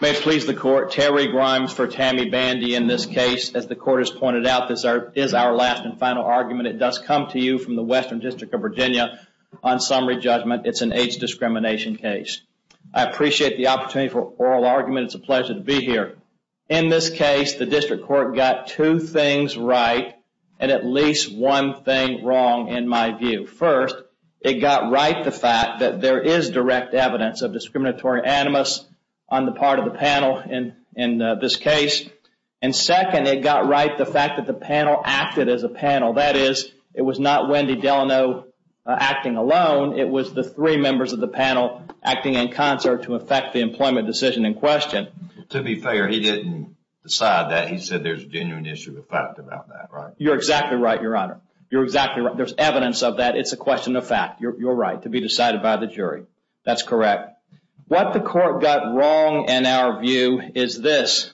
May please the court Terry Grimes for Tammy Bandy in this case as the court has pointed out This is our last and final argument. It does come to you from the Western District of Virginia on summary judgment It's an AIDS discrimination case. I appreciate the opportunity for oral argument It's a pleasure to be here in this case The district court got two things right and at least one thing wrong in my view first it got right the fact that there is direct evidence of discriminatory animus on the part of the panel in in this case and Second it got right the fact that the panel acted as a panel. That is it was not Wendy Delano Acting alone. It was the three members of the panel acting in concert to affect the employment decision in question to be fair He didn't decide that he said there's genuine issue with fact about that, right? You're exactly right. Your honor. You're exactly right There's evidence of that. It's a question of fact. You're right to be decided by the jury. That's correct what the court got wrong and our view is this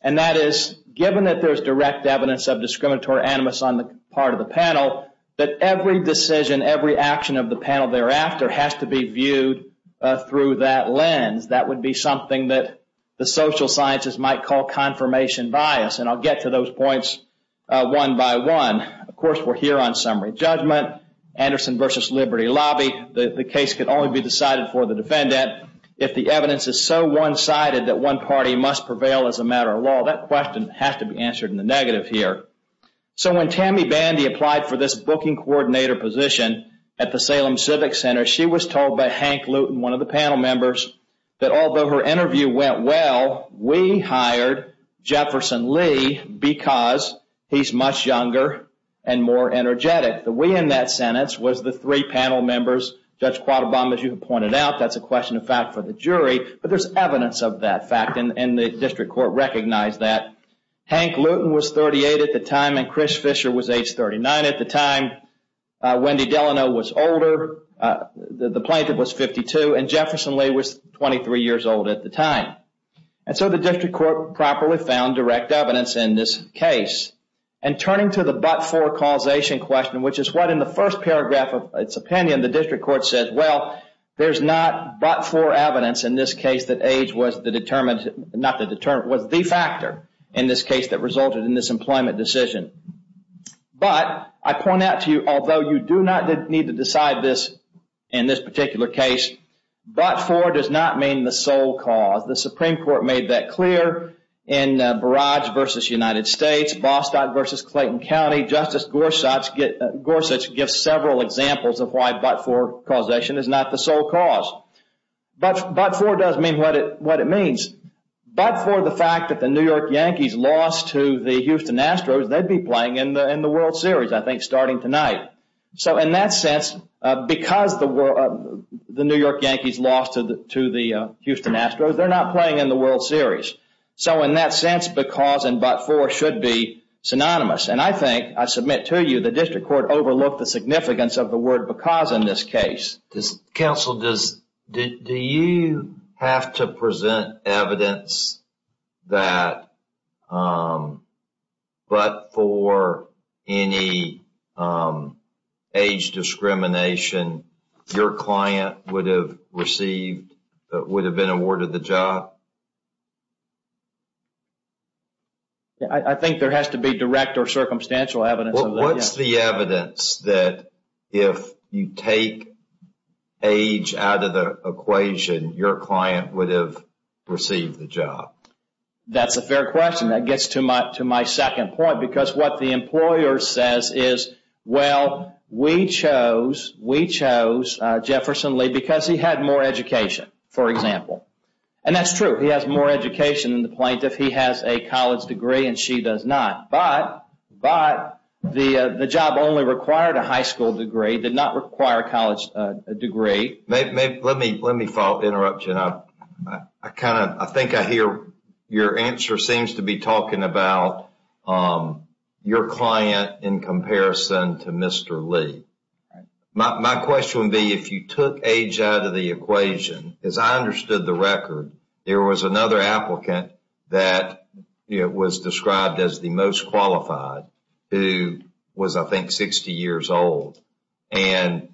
and That is given that there's direct evidence of discriminatory animus on the part of the panel But every decision every action of the panel thereafter has to be viewed Through that lens that would be something that the social sciences might call confirmation bias and I'll get to those points One by one, of course, we're here on summary judgment Anderson versus Liberty Lobby The case could only be decided for the defendant if the evidence is so one-sided that one party must prevail as a matter of law That question has to be answered in the negative here So when Tammy Bandy applied for this booking coordinator position at the Salem Civic Center She was told by Hank Luton one of the panel members that although her interview went well, we hired Jefferson Lee because He's much younger and more energetic the way in that sentence was the three panel members judge quad Obama's you have pointed out That's a question of fact for the jury, but there's evidence of that fact and the district court recognized that Hank Luton was 38 at the time and Chris Fischer was age 39 at the time Wendy Delano was older The plaintiff was 52 and Jefferson Lee was 23 years old at the time And so the district court properly found direct evidence in this case And turning to the but-for causation question, which is what in the first paragraph of its opinion the district court says Well, there's not but-for evidence in this case that age was the determined not the determined was the factor in this case That resulted in this employment decision But I point out to you, although you do not need to decide this in this particular case But for does not mean the sole cause the Supreme Court made that clear in Versus Clayton County justice Gorsuch get Gorsuch gives several examples of why but-for causation is not the sole cause But but-for does mean what it what it means But for the fact that the New York Yankees lost to the Houston Astros, they'd be playing in the in the World Series I think starting tonight so in that sense because the world the New York Yankees lost to the to the Houston Astros They're not playing in the World Series. So in that sense because and but-for should be synonymous and I think I submit to you the district court overlooked the significance of the word because in this case this council does Do you have to present evidence? that But for any Age Discrimination your client would have received that would have been awarded the job. I Think there has to be direct or circumstantial evidence. What's the evidence that if you take Age out of the equation your client would have received the job That's a fair question that gets too much to my second point because what the employer says is well We chose we chose Jefferson Lee because he had more education for example, and that's true He has more education than the plaintiff. He has a college degree and she does not but but The the job only required a high school degree did not require college degree Let me let me follow interrupt you know, I kind of I think I hear your answer seems to be talking about Your client in comparison to mr. Lee My question would be if you took age out of the equation as I understood the record. There was another applicant that It was described as the most qualified who was I think 60 years old and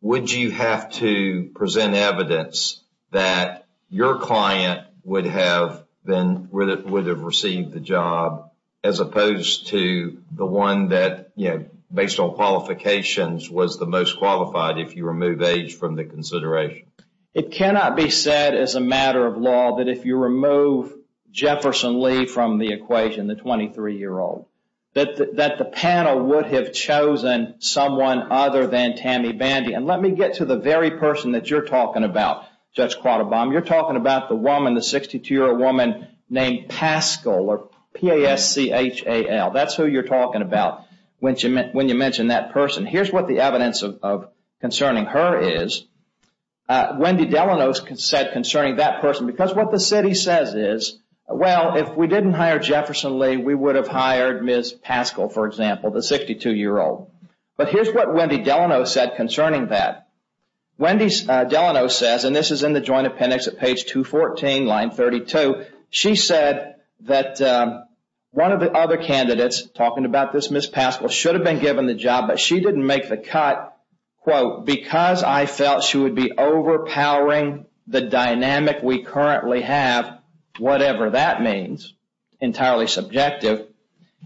Would you have to present evidence that Your client would have been with it would have received the job as opposed to the one that you know Based on qualifications was the most qualified if you remove age from the consideration It cannot be said as a matter of law that if you remove Jefferson Lee from the equation the 23 year old that that the panel would have chosen Someone other than Tammy Bandy and let me get to the very person that you're talking about Judge caught a bomb you're talking about the woman the 62-year-old woman named Pascal or PASC HAL that's who you're talking about when she meant when you mentioned that person. Here's what the evidence of concerning her is Wendy Delano's consent concerning that person because what the city says is well if we didn't hire Jefferson Lee We would have hired miss Pascal. For example, the 62 year old but here's what Wendy Delano said concerning that Wendy's Delano says and this is in the joint appendix at page 214 line 32. She said that One of the other candidates talking about this miss pascal should have been given the job, but she didn't make the cut Quote because I felt she would be overpowering the dynamic. We currently have Whatever that means Entirely subjective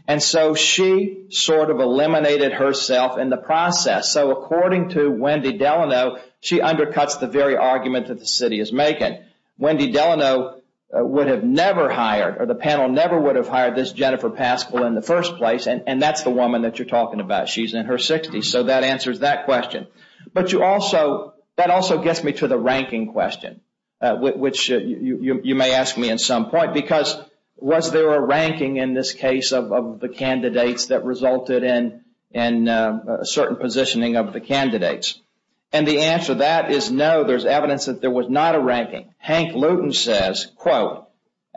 and so she sort of eliminated herself in the process So according to Wendy Delano, she undercuts the very argument that the city is making Wendy Delano Would have never hired or the panel never would have hired this Jennifer Pascal in the first place And and that's the woman that you're talking about. She's in her 60s So that answers that question, but you also that also gets me to the ranking question which you may ask me in some point because was there a ranking in this case of the candidates that resulted in and Certain positioning of the candidates and the answer that is no there's evidence that there was not a ranking Hank Luton says quote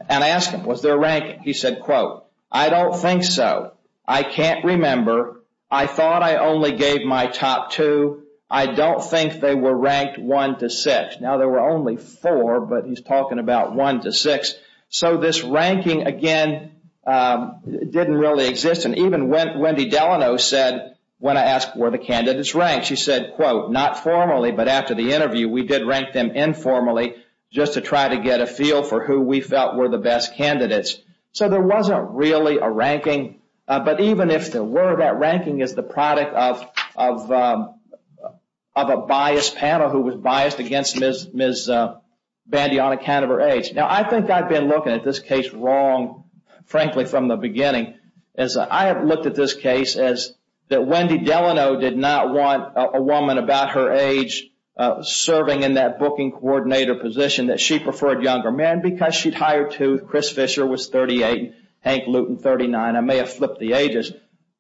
And I asked him was there a rank. He said quote. I don't think so. I can't remember I thought I only gave my top two I don't think they were ranked one to six now There were only four but he's talking about one to six. So this ranking again Didn't really exist and even went Wendy Delano said when I asked where the candidates rank She said quote not formally But after the interview we did rank them informally just to try to get a feel for who we felt were the best candidates so there wasn't really a ranking but even if there were that ranking is the product of of of a biased panel who was biased against miss miss Bandiana can of her age now, I think I've been looking at this case wrong Frankly from the beginning as I have looked at this case as that Wendy Delano did not want a woman about her age Serving in that booking coordinator position that she preferred younger men because she'd hired to Chris Fisher was 38 Hank Luton 39 I may have flipped the ages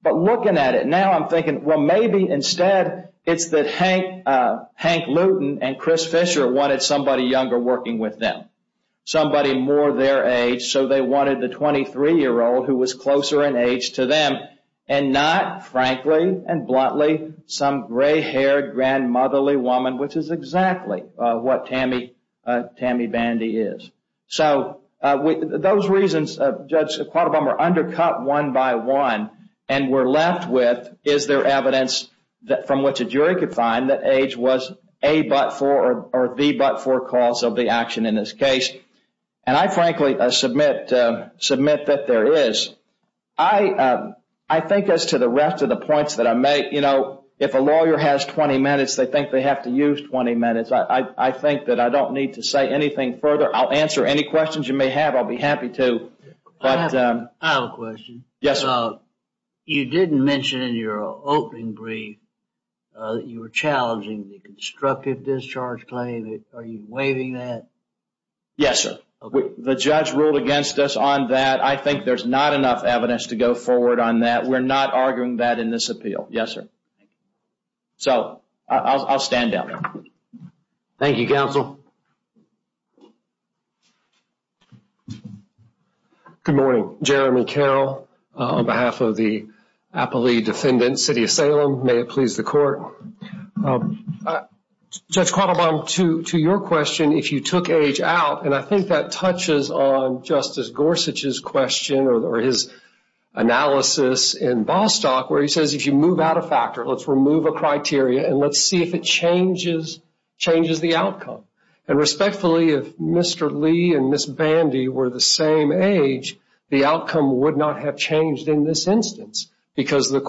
but looking at it now. I'm thinking well, maybe instead it's that Hank Hank Luton and Chris Fisher wanted somebody younger working with them Somebody more their age. So they wanted the 23 year old who was closer in age to them and not Frankly and bluntly some gray-haired Grandmotherly woman, which is exactly what Tammy Tammy Bandy is So with those reasons judge a quarter bummer undercut one by one and we're left with is there evidence? That from what's a jury could find that age was a but for or the but for cause of the action in this case and I frankly I submit submit that there is I I think as to the rest of the points that I make, you know, if a lawyer has 20 minutes They think they have to use 20 minutes. I think that I don't need to say anything further I'll answer any questions you may have I'll be happy to But I have a question. Yes You didn't mention in your opening brief You were challenging the constructive discharge claim. Are you waving that? Yes, sir, the judge ruled against us on that I think there's not enough evidence to go forward on that We're not arguing that in this appeal. Yes, sir So I'll stand down Thank You counsel Good morning, Jeremy Carroll on behalf of the appellee defendant City of Salem. May it please the court? Judge Quattlebaum to to your question if you took age out and I think that touches on justice Gorsuch's question or his Analysis in Bostock where he says if you move out a factor, let's remove a criteria and let's see if it changes Changes the outcome and respectfully if mr Lee and miss Bandy were the same age the outcome would not have changed in this instance because the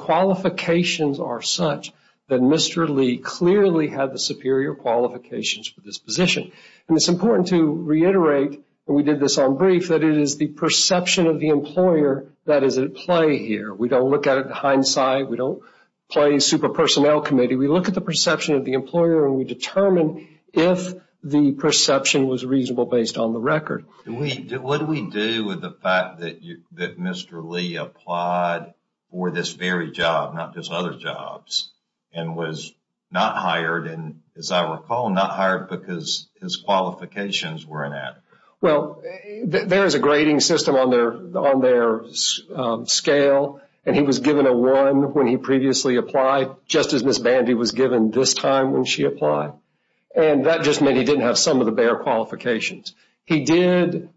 Clearly had the superior qualifications for this position and it's important to reiterate We did this on brief that it is the perception of the employer that is at play here We don't look at it hindsight. We don't play a super personnel committee We look at the perception of the employer and we determine if the perception was reasonable based on the record We did what do we do with the fact that you that mr. Applied for this very job not just other jobs and was not hired And as I recall not hired because his qualifications weren't at well There is a grading system on their on their Scale and he was given a one when he previously applied just as miss Bandy was given this time when she applied And that just meant he didn't have some of the bare qualifications. He did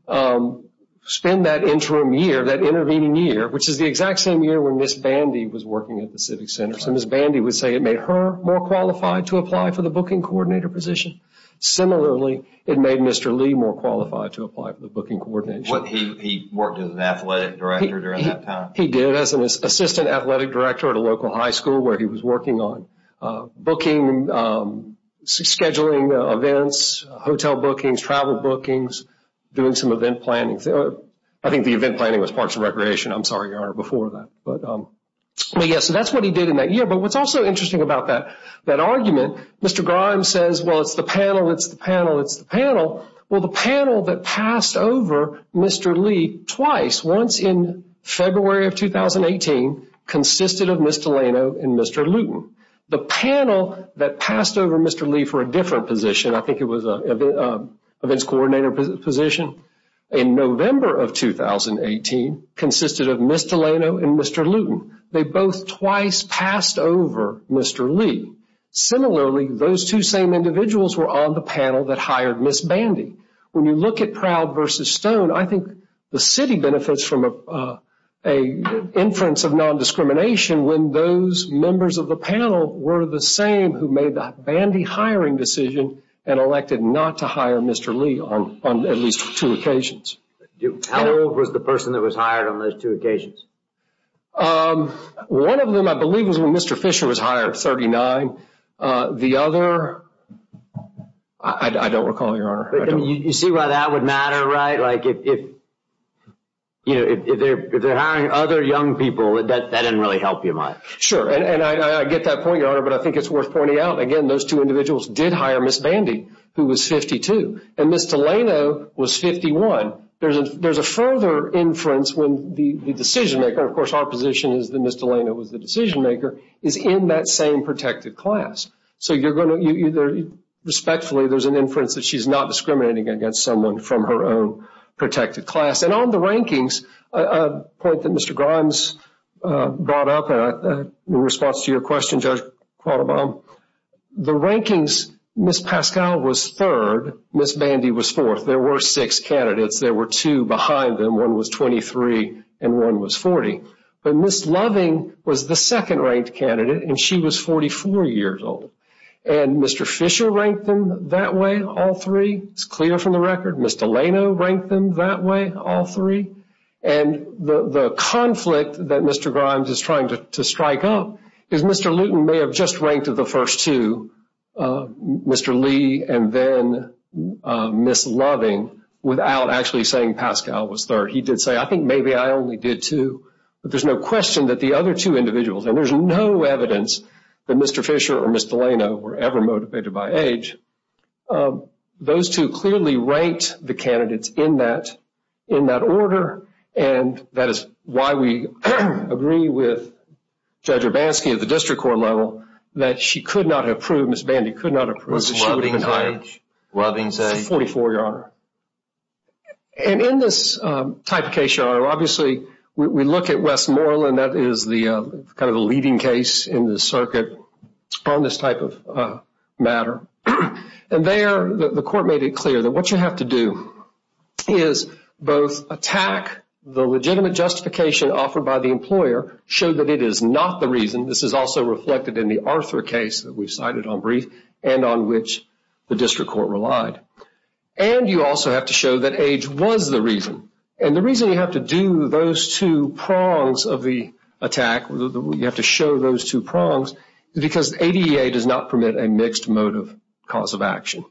Spend that interim year that intervening year Which is the exact same year when miss Bandy was working at the Civic Center? So miss Bandy would say it made her more qualified to apply for the booking coordinator position Similarly, it made mr. Lee more qualified to apply for the booking coordinator what he worked as an athletic director He did as an assistant athletic director at a local high school where he was working on booking Six scheduling events hotel bookings travel bookings doing some event planning So I think the event planning was parts of recreation. I'm sorry your honor before that, but Yes, that's what he did in that year. But what's also interesting about that that argument? Mr. Grimes says well, it's the panel It's the panel. It's the panel. Well the panel that passed over. Mr. Lee twice once in February of 2018 Consisted of mr. Leno and mr. Luton the panel that passed over. Mr. Lee for a different position. I think it was a events coordinator position in November of 2018 Consisted of mr. Leno and mr. Luton. They both twice passed over. Mr. Lee Similarly those two same individuals were on the panel that hired miss Bandy when you look at proud versus stone I think the city benefits from a a Inference of non-discrimination when those members of the panel were the same who made the Bandy hiring decision and Elected not to hire. Mr. Lee on at least two occasions How old was the person that was hired on those two occasions? One of them I believe was when mr. Fisher was hired 39 the other I Don't recall your honor you see why that would matter right like if You know if they're hiring other young people that that didn't really help you much sure and I get that point your honor But I think it's worth pointing out again. Those two individuals did hire miss Bandy who was 52 and mr. Leno was 51 There's a there's a further inference when the the decision-maker of course our position is the mr. Leno was the decision-maker is in that same protected class. So you're going to either Respectfully, there's an inference that she's not discriminating against someone from her own protected class and on the rankings a point that mr. Grimes brought up a response to your question judge The rankings miss Pascal was third miss Bandy was fourth. There were six candidates There were two behind them one was 23 and one was 40 But miss loving was the second ranked candidate and she was 44 years old and mr Fisher ranked them that way all three. It's clear from the record. Mr. Leno ranked them that way all three and The the conflict that mr. Grimes is trying to strike up is mr. Luton may have just ranked of the first two mr. Lee and then Miss loving without actually saying Pascal was third He did say I think maybe I only did too, but there's no question that the other two individuals and there's no evidence That mr. Fisher or mr. Leno were ever motivated by age those two clearly ranked the candidates in that in that order and that is why we agree with Judge Urbanski at the district court level that she could not have proved miss Bandy could not approve Robbins a 44-year-old And in this type of case, obviously we look at Westmoreland That is the kind of a leading case in the circuit on this type of Matter and there the court made it clear that what you have to do Is both attack the legitimate justification offered by the employer show that it is not the reason This is also reflected in the Arthur case that we've cited on brief and on which the district court relied and you also have to show that age was the reason and the reason you have to do those two prongs of the Attack, we have to show those two prongs Because ADA does not permit a mixed motive cause of action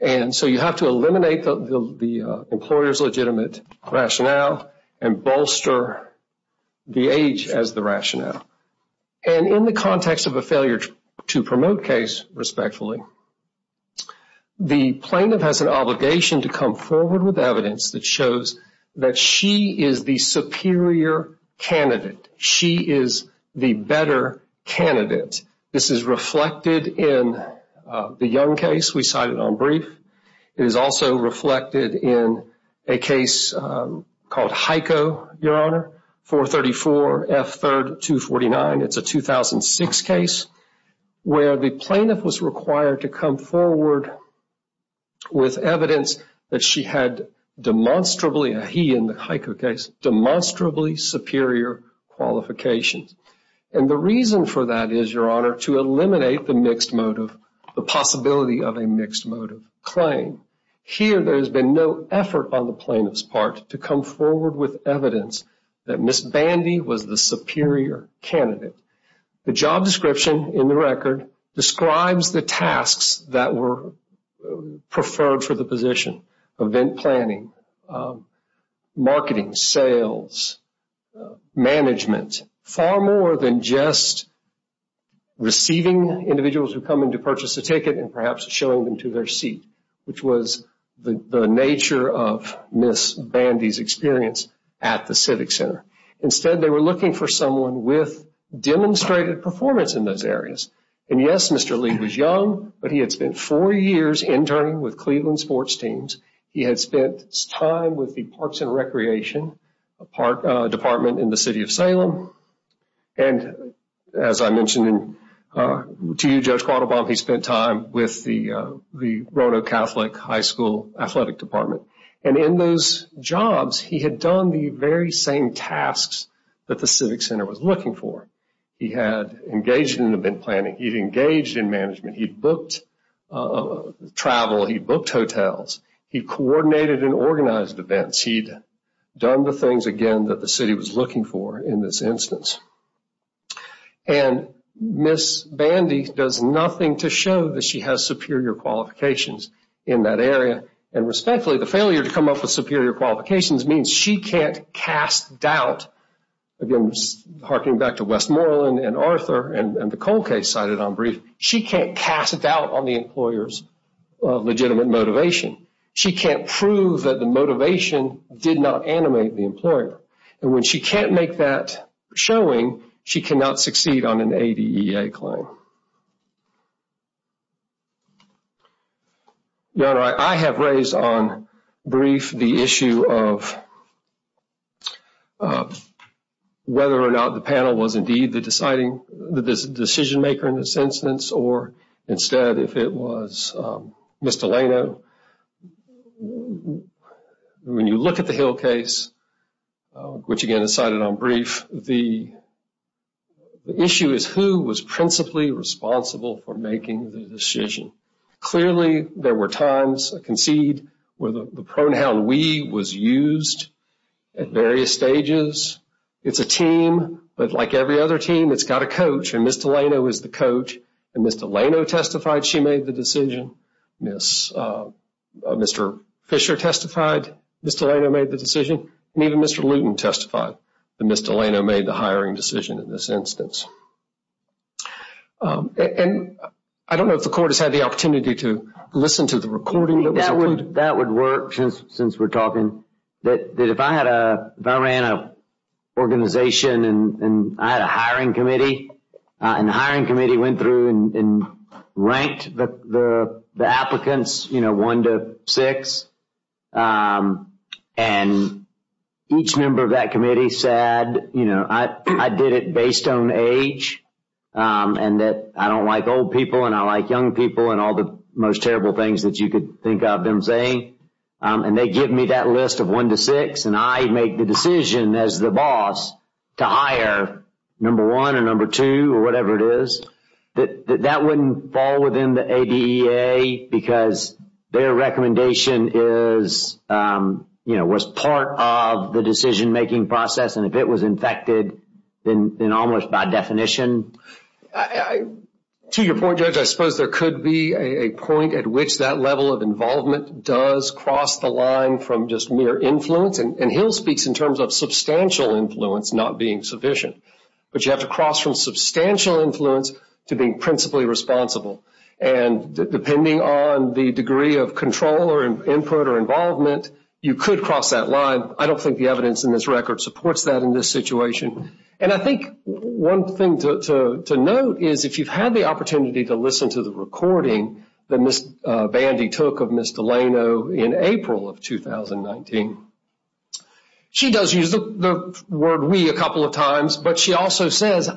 and so you have to eliminate the the employers legitimate rationale and bolster The age as the rationale and in the context of a failure to promote case respectfully The plaintiff has an obligation to come forward with evidence that shows that she is the superior Candidate she is the better Candidate this is reflected in The young case we cited on brief. It is also reflected in a case Called Heiko, your honor 434 f 3rd to 49. It's a 2006 case Where the plaintiff was required to come forward? with evidence that she had Demonstrably a he in the Heiko case demonstrably superior Qualifications and the reason for that is your honor to eliminate the mixed motive the possibility of a mixed motive claim Here there has been no effort on the plaintiff's part to come forward with evidence that miss Bandy was the superior Candidate the job description in the record describes the tasks that were Preferred for the position event planning Marketing sales Management far more than just Receiving individuals who come in to purchase a ticket and perhaps showing them to their seat Which was the nature of miss Bandy's experience at the Civic Center instead? They were looking for someone with Cleveland sports teams he had spent time with the parks and recreation a part department in the city of Salem and as I mentioned To you judge caught a bomb he spent time with the the Roto Catholic high school athletic department and in those Jobs, he had done the very same tasks that the Civic Center was looking for he had engaged in the been planning He's engaged in management. He booked a He booked hotels he coordinated and organized events he'd done the things again that the city was looking for in this instance and Miss Bandy does nothing to show that she has superior qualifications in that area and Respectfully the failure to come up with superior qualifications means she can't cast doubt Again, just harking back to Westmoreland and Arthur and the cold case cited on brief She can't cast a doubt on the employers Legitimate motivation she can't prove that the motivation did not animate the employer and when she can't make that Showing she cannot succeed on an a DEA claim Yeah, I have raised on brief the issue of Whether or not the panel was indeed the deciding the decision-maker in this instance or instead if it was Mr. Leno When you look at the Hill case which again is cited on brief the Issue is who was principally responsible for making the decision Clearly there were times I concede where the pronoun we was used at various stages It's a team. But like every other team that's got a coach and mr. Leno is the coach and mr. Leno testified She made the decision miss Mr. Fisher testified. Mr. Leno made the decision and even mr. Luton testified the mr. Leno made the hiring decision in this instance And I don't know if the court has had the opportunity to listen to the recording that would that would work since since we're talking That if I had a I ran a organization and I had a hiring committee and the hiring committee went through and ranked the applicants, you know one to six and Each member of that committee said, you know, I did it based on age And that I don't like old people and I like young people and all the most terrible things that you could think of them saying And they give me that list of one to six and I make the decision as the boss to hire number one or number two or whatever it is that that wouldn't fall within the ADA because their recommendation is You know was part of the decision-making process and if it was infected then almost by definition I To your point judge I suppose there could be a point at which that level of involvement does cross the line from just mere influence and he'll speaks in terms of substantial influence not being sufficient, but you have to cross from substantial influence to being principally responsible and Depending on the degree of control or input or involvement. You could cross that line I don't think the evidence in this record supports that in this situation And I think one thing to note is if you've had the opportunity to listen to the recording that Miss Bandy took of miss Delano in April of 2019 She does use the word we a couple of times But she also says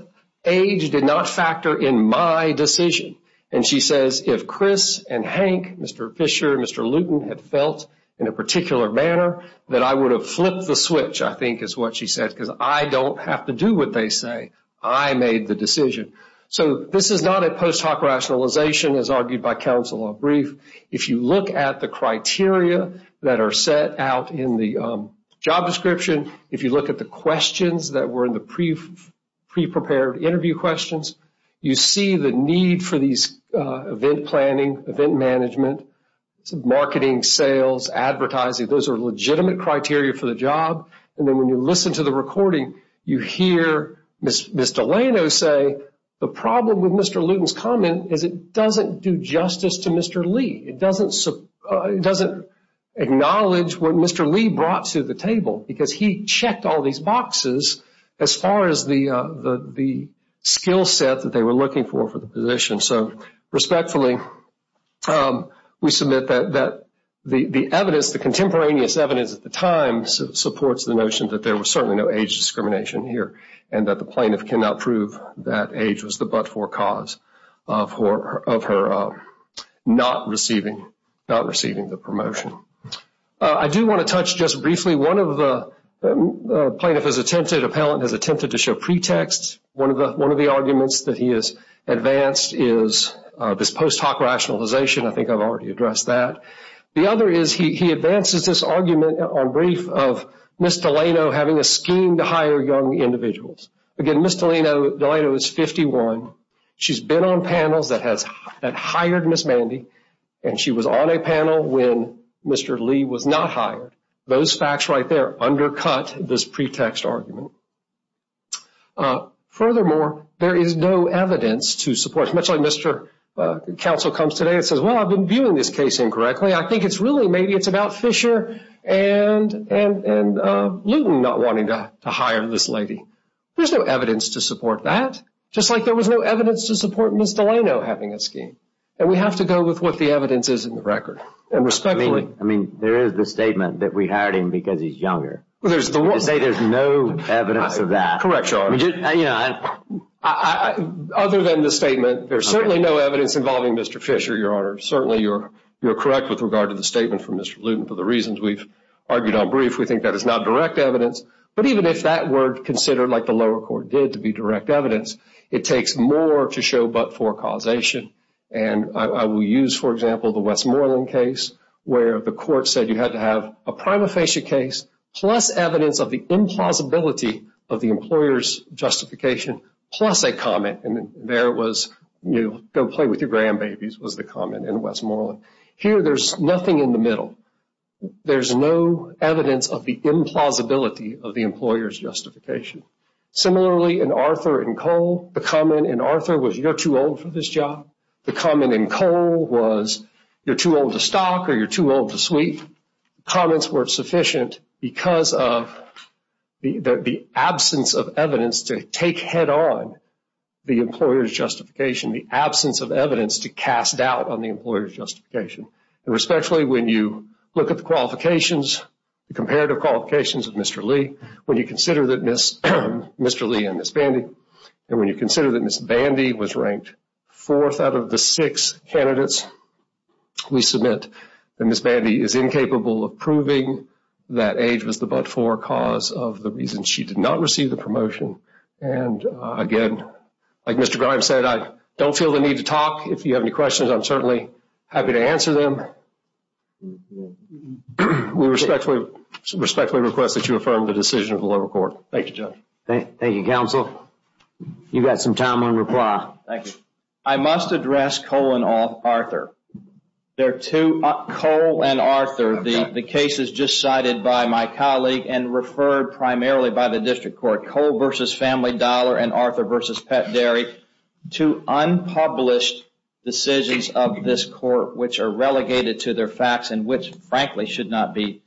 age did not factor in my decision and she says if Chris and Hank mr Fisher mr. Luton had felt in a particular manner that I would have flipped the switch I think is what she said because I don't have to do what they say. I made the decision so this is not a post hoc rationalization as argued by counsel or brief if you look at the criteria that are set out in the job description if you look at the questions that were in the Pre-prepared interview questions. You see the need for these event planning event management Marketing sales Advertising those are legitimate criteria for the job. And then when you listen to the recording you hear miss Miss Delano say the problem with mr. Luton's comment is it doesn't do justice to mr. Lee. It doesn't doesn't Acknowledge what? Mr. Lee brought to the table because he checked all these boxes as far as the the Skillset that they were looking for for the position. So respectfully We submit that that the the evidence the contemporaneous evidence at the time Supports the notion that there was certainly no age discrimination here and that the plaintiff cannot prove that age was the but-for-cause for of her Not receiving not receiving the promotion. I do want to touch just briefly one of the plaintiff has attempted appellant has attempted to show pretext one of the one of the arguments that he is Advanced is this post hoc rationalization I think I've already addressed that the other is he advances this argument on brief of Miss Delano having a scheme to hire young individuals again. Miss Delano Delano is 51 She's been on panels that has had hired miss Mandy and she was on a panel when mr Lee was not hired those facts right there undercut this pretext argument Uh furthermore there is no evidence to support much like mr Counsel comes today. It says well, I've been viewing this case incorrectly. I think it's really maybe it's about Fisher and and Newton not wanting to hire this lady. There's no evidence to support that just like there was no evidence to support Miss Delano having a scheme and we have to go with what the evidence is in the record and respectfully I mean, there is the statement that we hired him because he's younger There's the one say there's no evidence of that. Correct your honor. Yeah Other than the statement, there's certainly no evidence involving. Mr. Fisher your honor Certainly, you're you're correct with regard to the statement from mr. Luton for the reasons we've argued on brief We think that is not direct evidence but even if that were considered like the lower court did to be direct evidence it takes more to show but for causation and I will use for example the Westmoreland case where the court said you had to have a prima facie case plus evidence of the implausibility of the employers Justification plus a comment and there was you go play with your grandbabies was the comment in Westmoreland here There's nothing in the middle There's no evidence of the implausibility of the employers justification Similarly in Arthur and Cole the comment in Arthur was you're too old for this job The comment in Cole was you're too old to stock or you're too old to sweep Comments were sufficient because of the absence of evidence to take head-on the employers justification the absence of evidence to cast doubt on the employers justification and respectfully when you look at the qualifications Comparative qualifications of mr. Lee when you consider that miss mr. Lee and miss Bandy and when you consider that miss Bandy was ranked fourth out of the six candidates We submit and miss Bandy is incapable of proving that age was the but-for cause of the reason she did not receive the promotion and Again, like mr. Grimes said I don't feel the need to talk if you have any questions. I'm certainly happy to answer them We respectfully respectfully request that you affirm the decision of the lower court, thank you judge. Thank you counsel You got some time on reply, thank you, I must address Cole and all Arthur They're two up Cole and Arthur The case is just cited by my colleague and referred primarily by the district court Cole versus family dollar and Arthur versus pet dairy to unpublished Decisions of this court which are relegated to their facts and which frankly should not be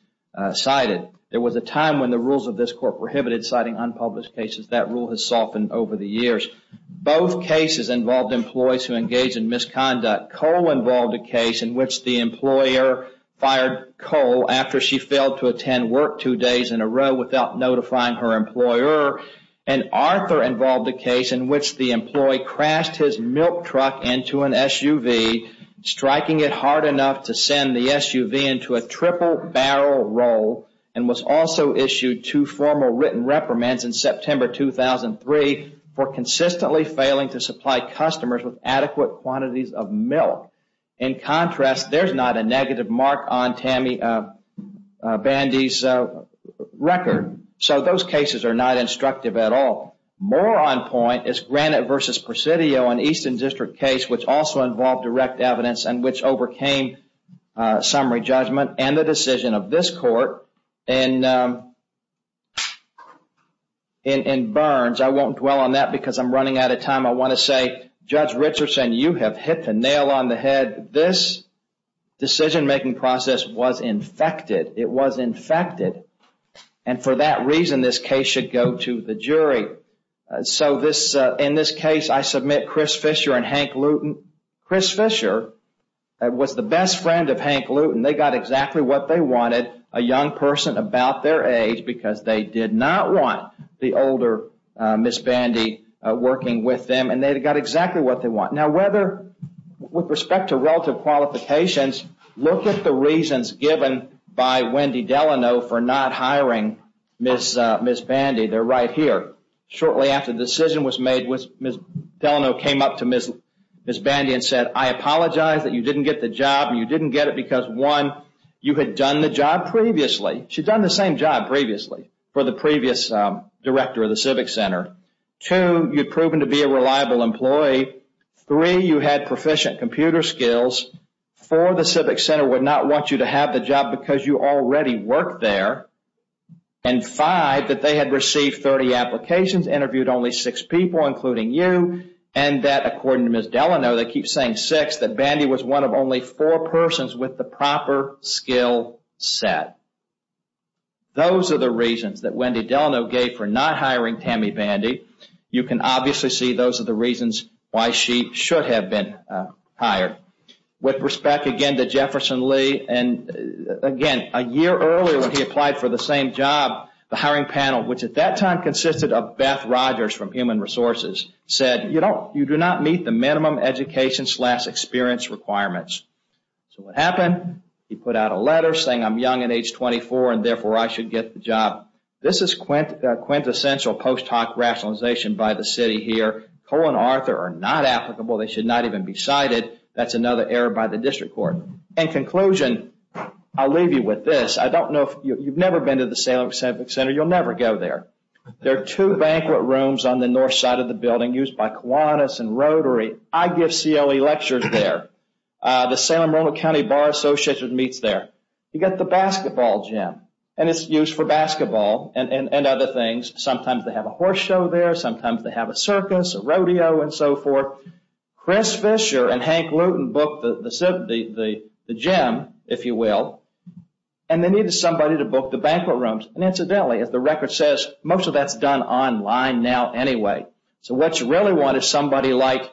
Cited there was a time when the rules of this court prohibited citing unpublished cases that rule has softened over the years Both cases involved employees who engage in misconduct Cole involved a case in which the employer fired Cole after she failed to attend work two days in a row without notifying her employer and Arthur involved a case in which the employee crashed his milk truck into an SUV Striking it hard enough to send the SUV into a triple barrel roll and was also issued to formal written reprimands in September 2003 for consistently failing to supply customers with adequate quantities of milk in Contrast there's not a negative mark on Tammy Bandy's Record so those cases are not instructive at all More on point is granite versus Presidio an Eastern District case which also involved direct evidence and which overcame summary judgment and the decision of this court and In burns I won't dwell on that because I'm running out of time I want to say judge Richardson you have hit the nail on the head this Decision-making process was infected. It was infected and For that reason this case should go to the jury So this in this case, I submit Chris Fisher and Hank Luton Chris Fisher That was the best friend of Hank Luton They got exactly what they wanted a young person about their age because they did not want the older Miss Bandy working with them and they've got exactly what they want now whether with respect to relative qualifications Look at the reasons given by Wendy Delano for not hiring miss miss Bandy They're right here shortly after the decision was made with miss Delano came up to miss miss Bandy and said I Apologize that you didn't get the job. You didn't get it because one you had done the job previously She'd done the same job previously for the previous Director of the Civic Center to you've proven to be a reliable employee Three you had proficient computer skills for the Civic Center would not want you to have the job because you already work there and Five that they had received 30 applications interviewed only six people including you and that according to miss Delano They keep saying six that Bandy was one of only four persons with the proper skill set Those are the reasons that Wendy Delano gave for not hiring Tammy Bandy You can obviously see those are the reasons why she should have been hired with respect again to Jefferson Lee and Again a year earlier when he applied for the same job the hiring panel Which at that time consisted of Beth Rogers from human resources said, you know, you do not meet the minimum education slash experience requirements So what happened he put out a letter saying I'm young at age 24 and therefore I should get the job This is quint quintessential post hoc rationalization by the city here Cole and Arthur are not applicable. They should not even be cited That's another error by the district court and conclusion. I'll leave you with this I don't know if you've never been to the Salem Civic Center. You'll never go there There are two banquet rooms on the north side of the building used by Kiwanis and Rotary. I give CLE lectures there The Salem Ronald County Bar Association meets there You got the basketball gym and it's used for basketball and other things Sometimes they have a horse show there. Sometimes they have a circus rodeo and so forth Chris Fisher and Hank Luton booked the the gym if you will and They needed somebody to book the banquet rooms and incidentally as the record says most of that's done online now anyway so what you really want is somebody like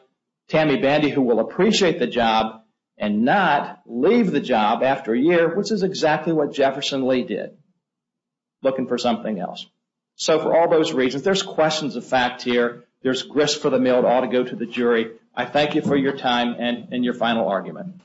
Tammy Bandy who will appreciate the job and not leave the job after a year, which is exactly what Jefferson Lee did Looking for something else. So for all those reasons, there's questions of fact here There's grist for the mill all to go to the jury. I thank you for your time and in your final argument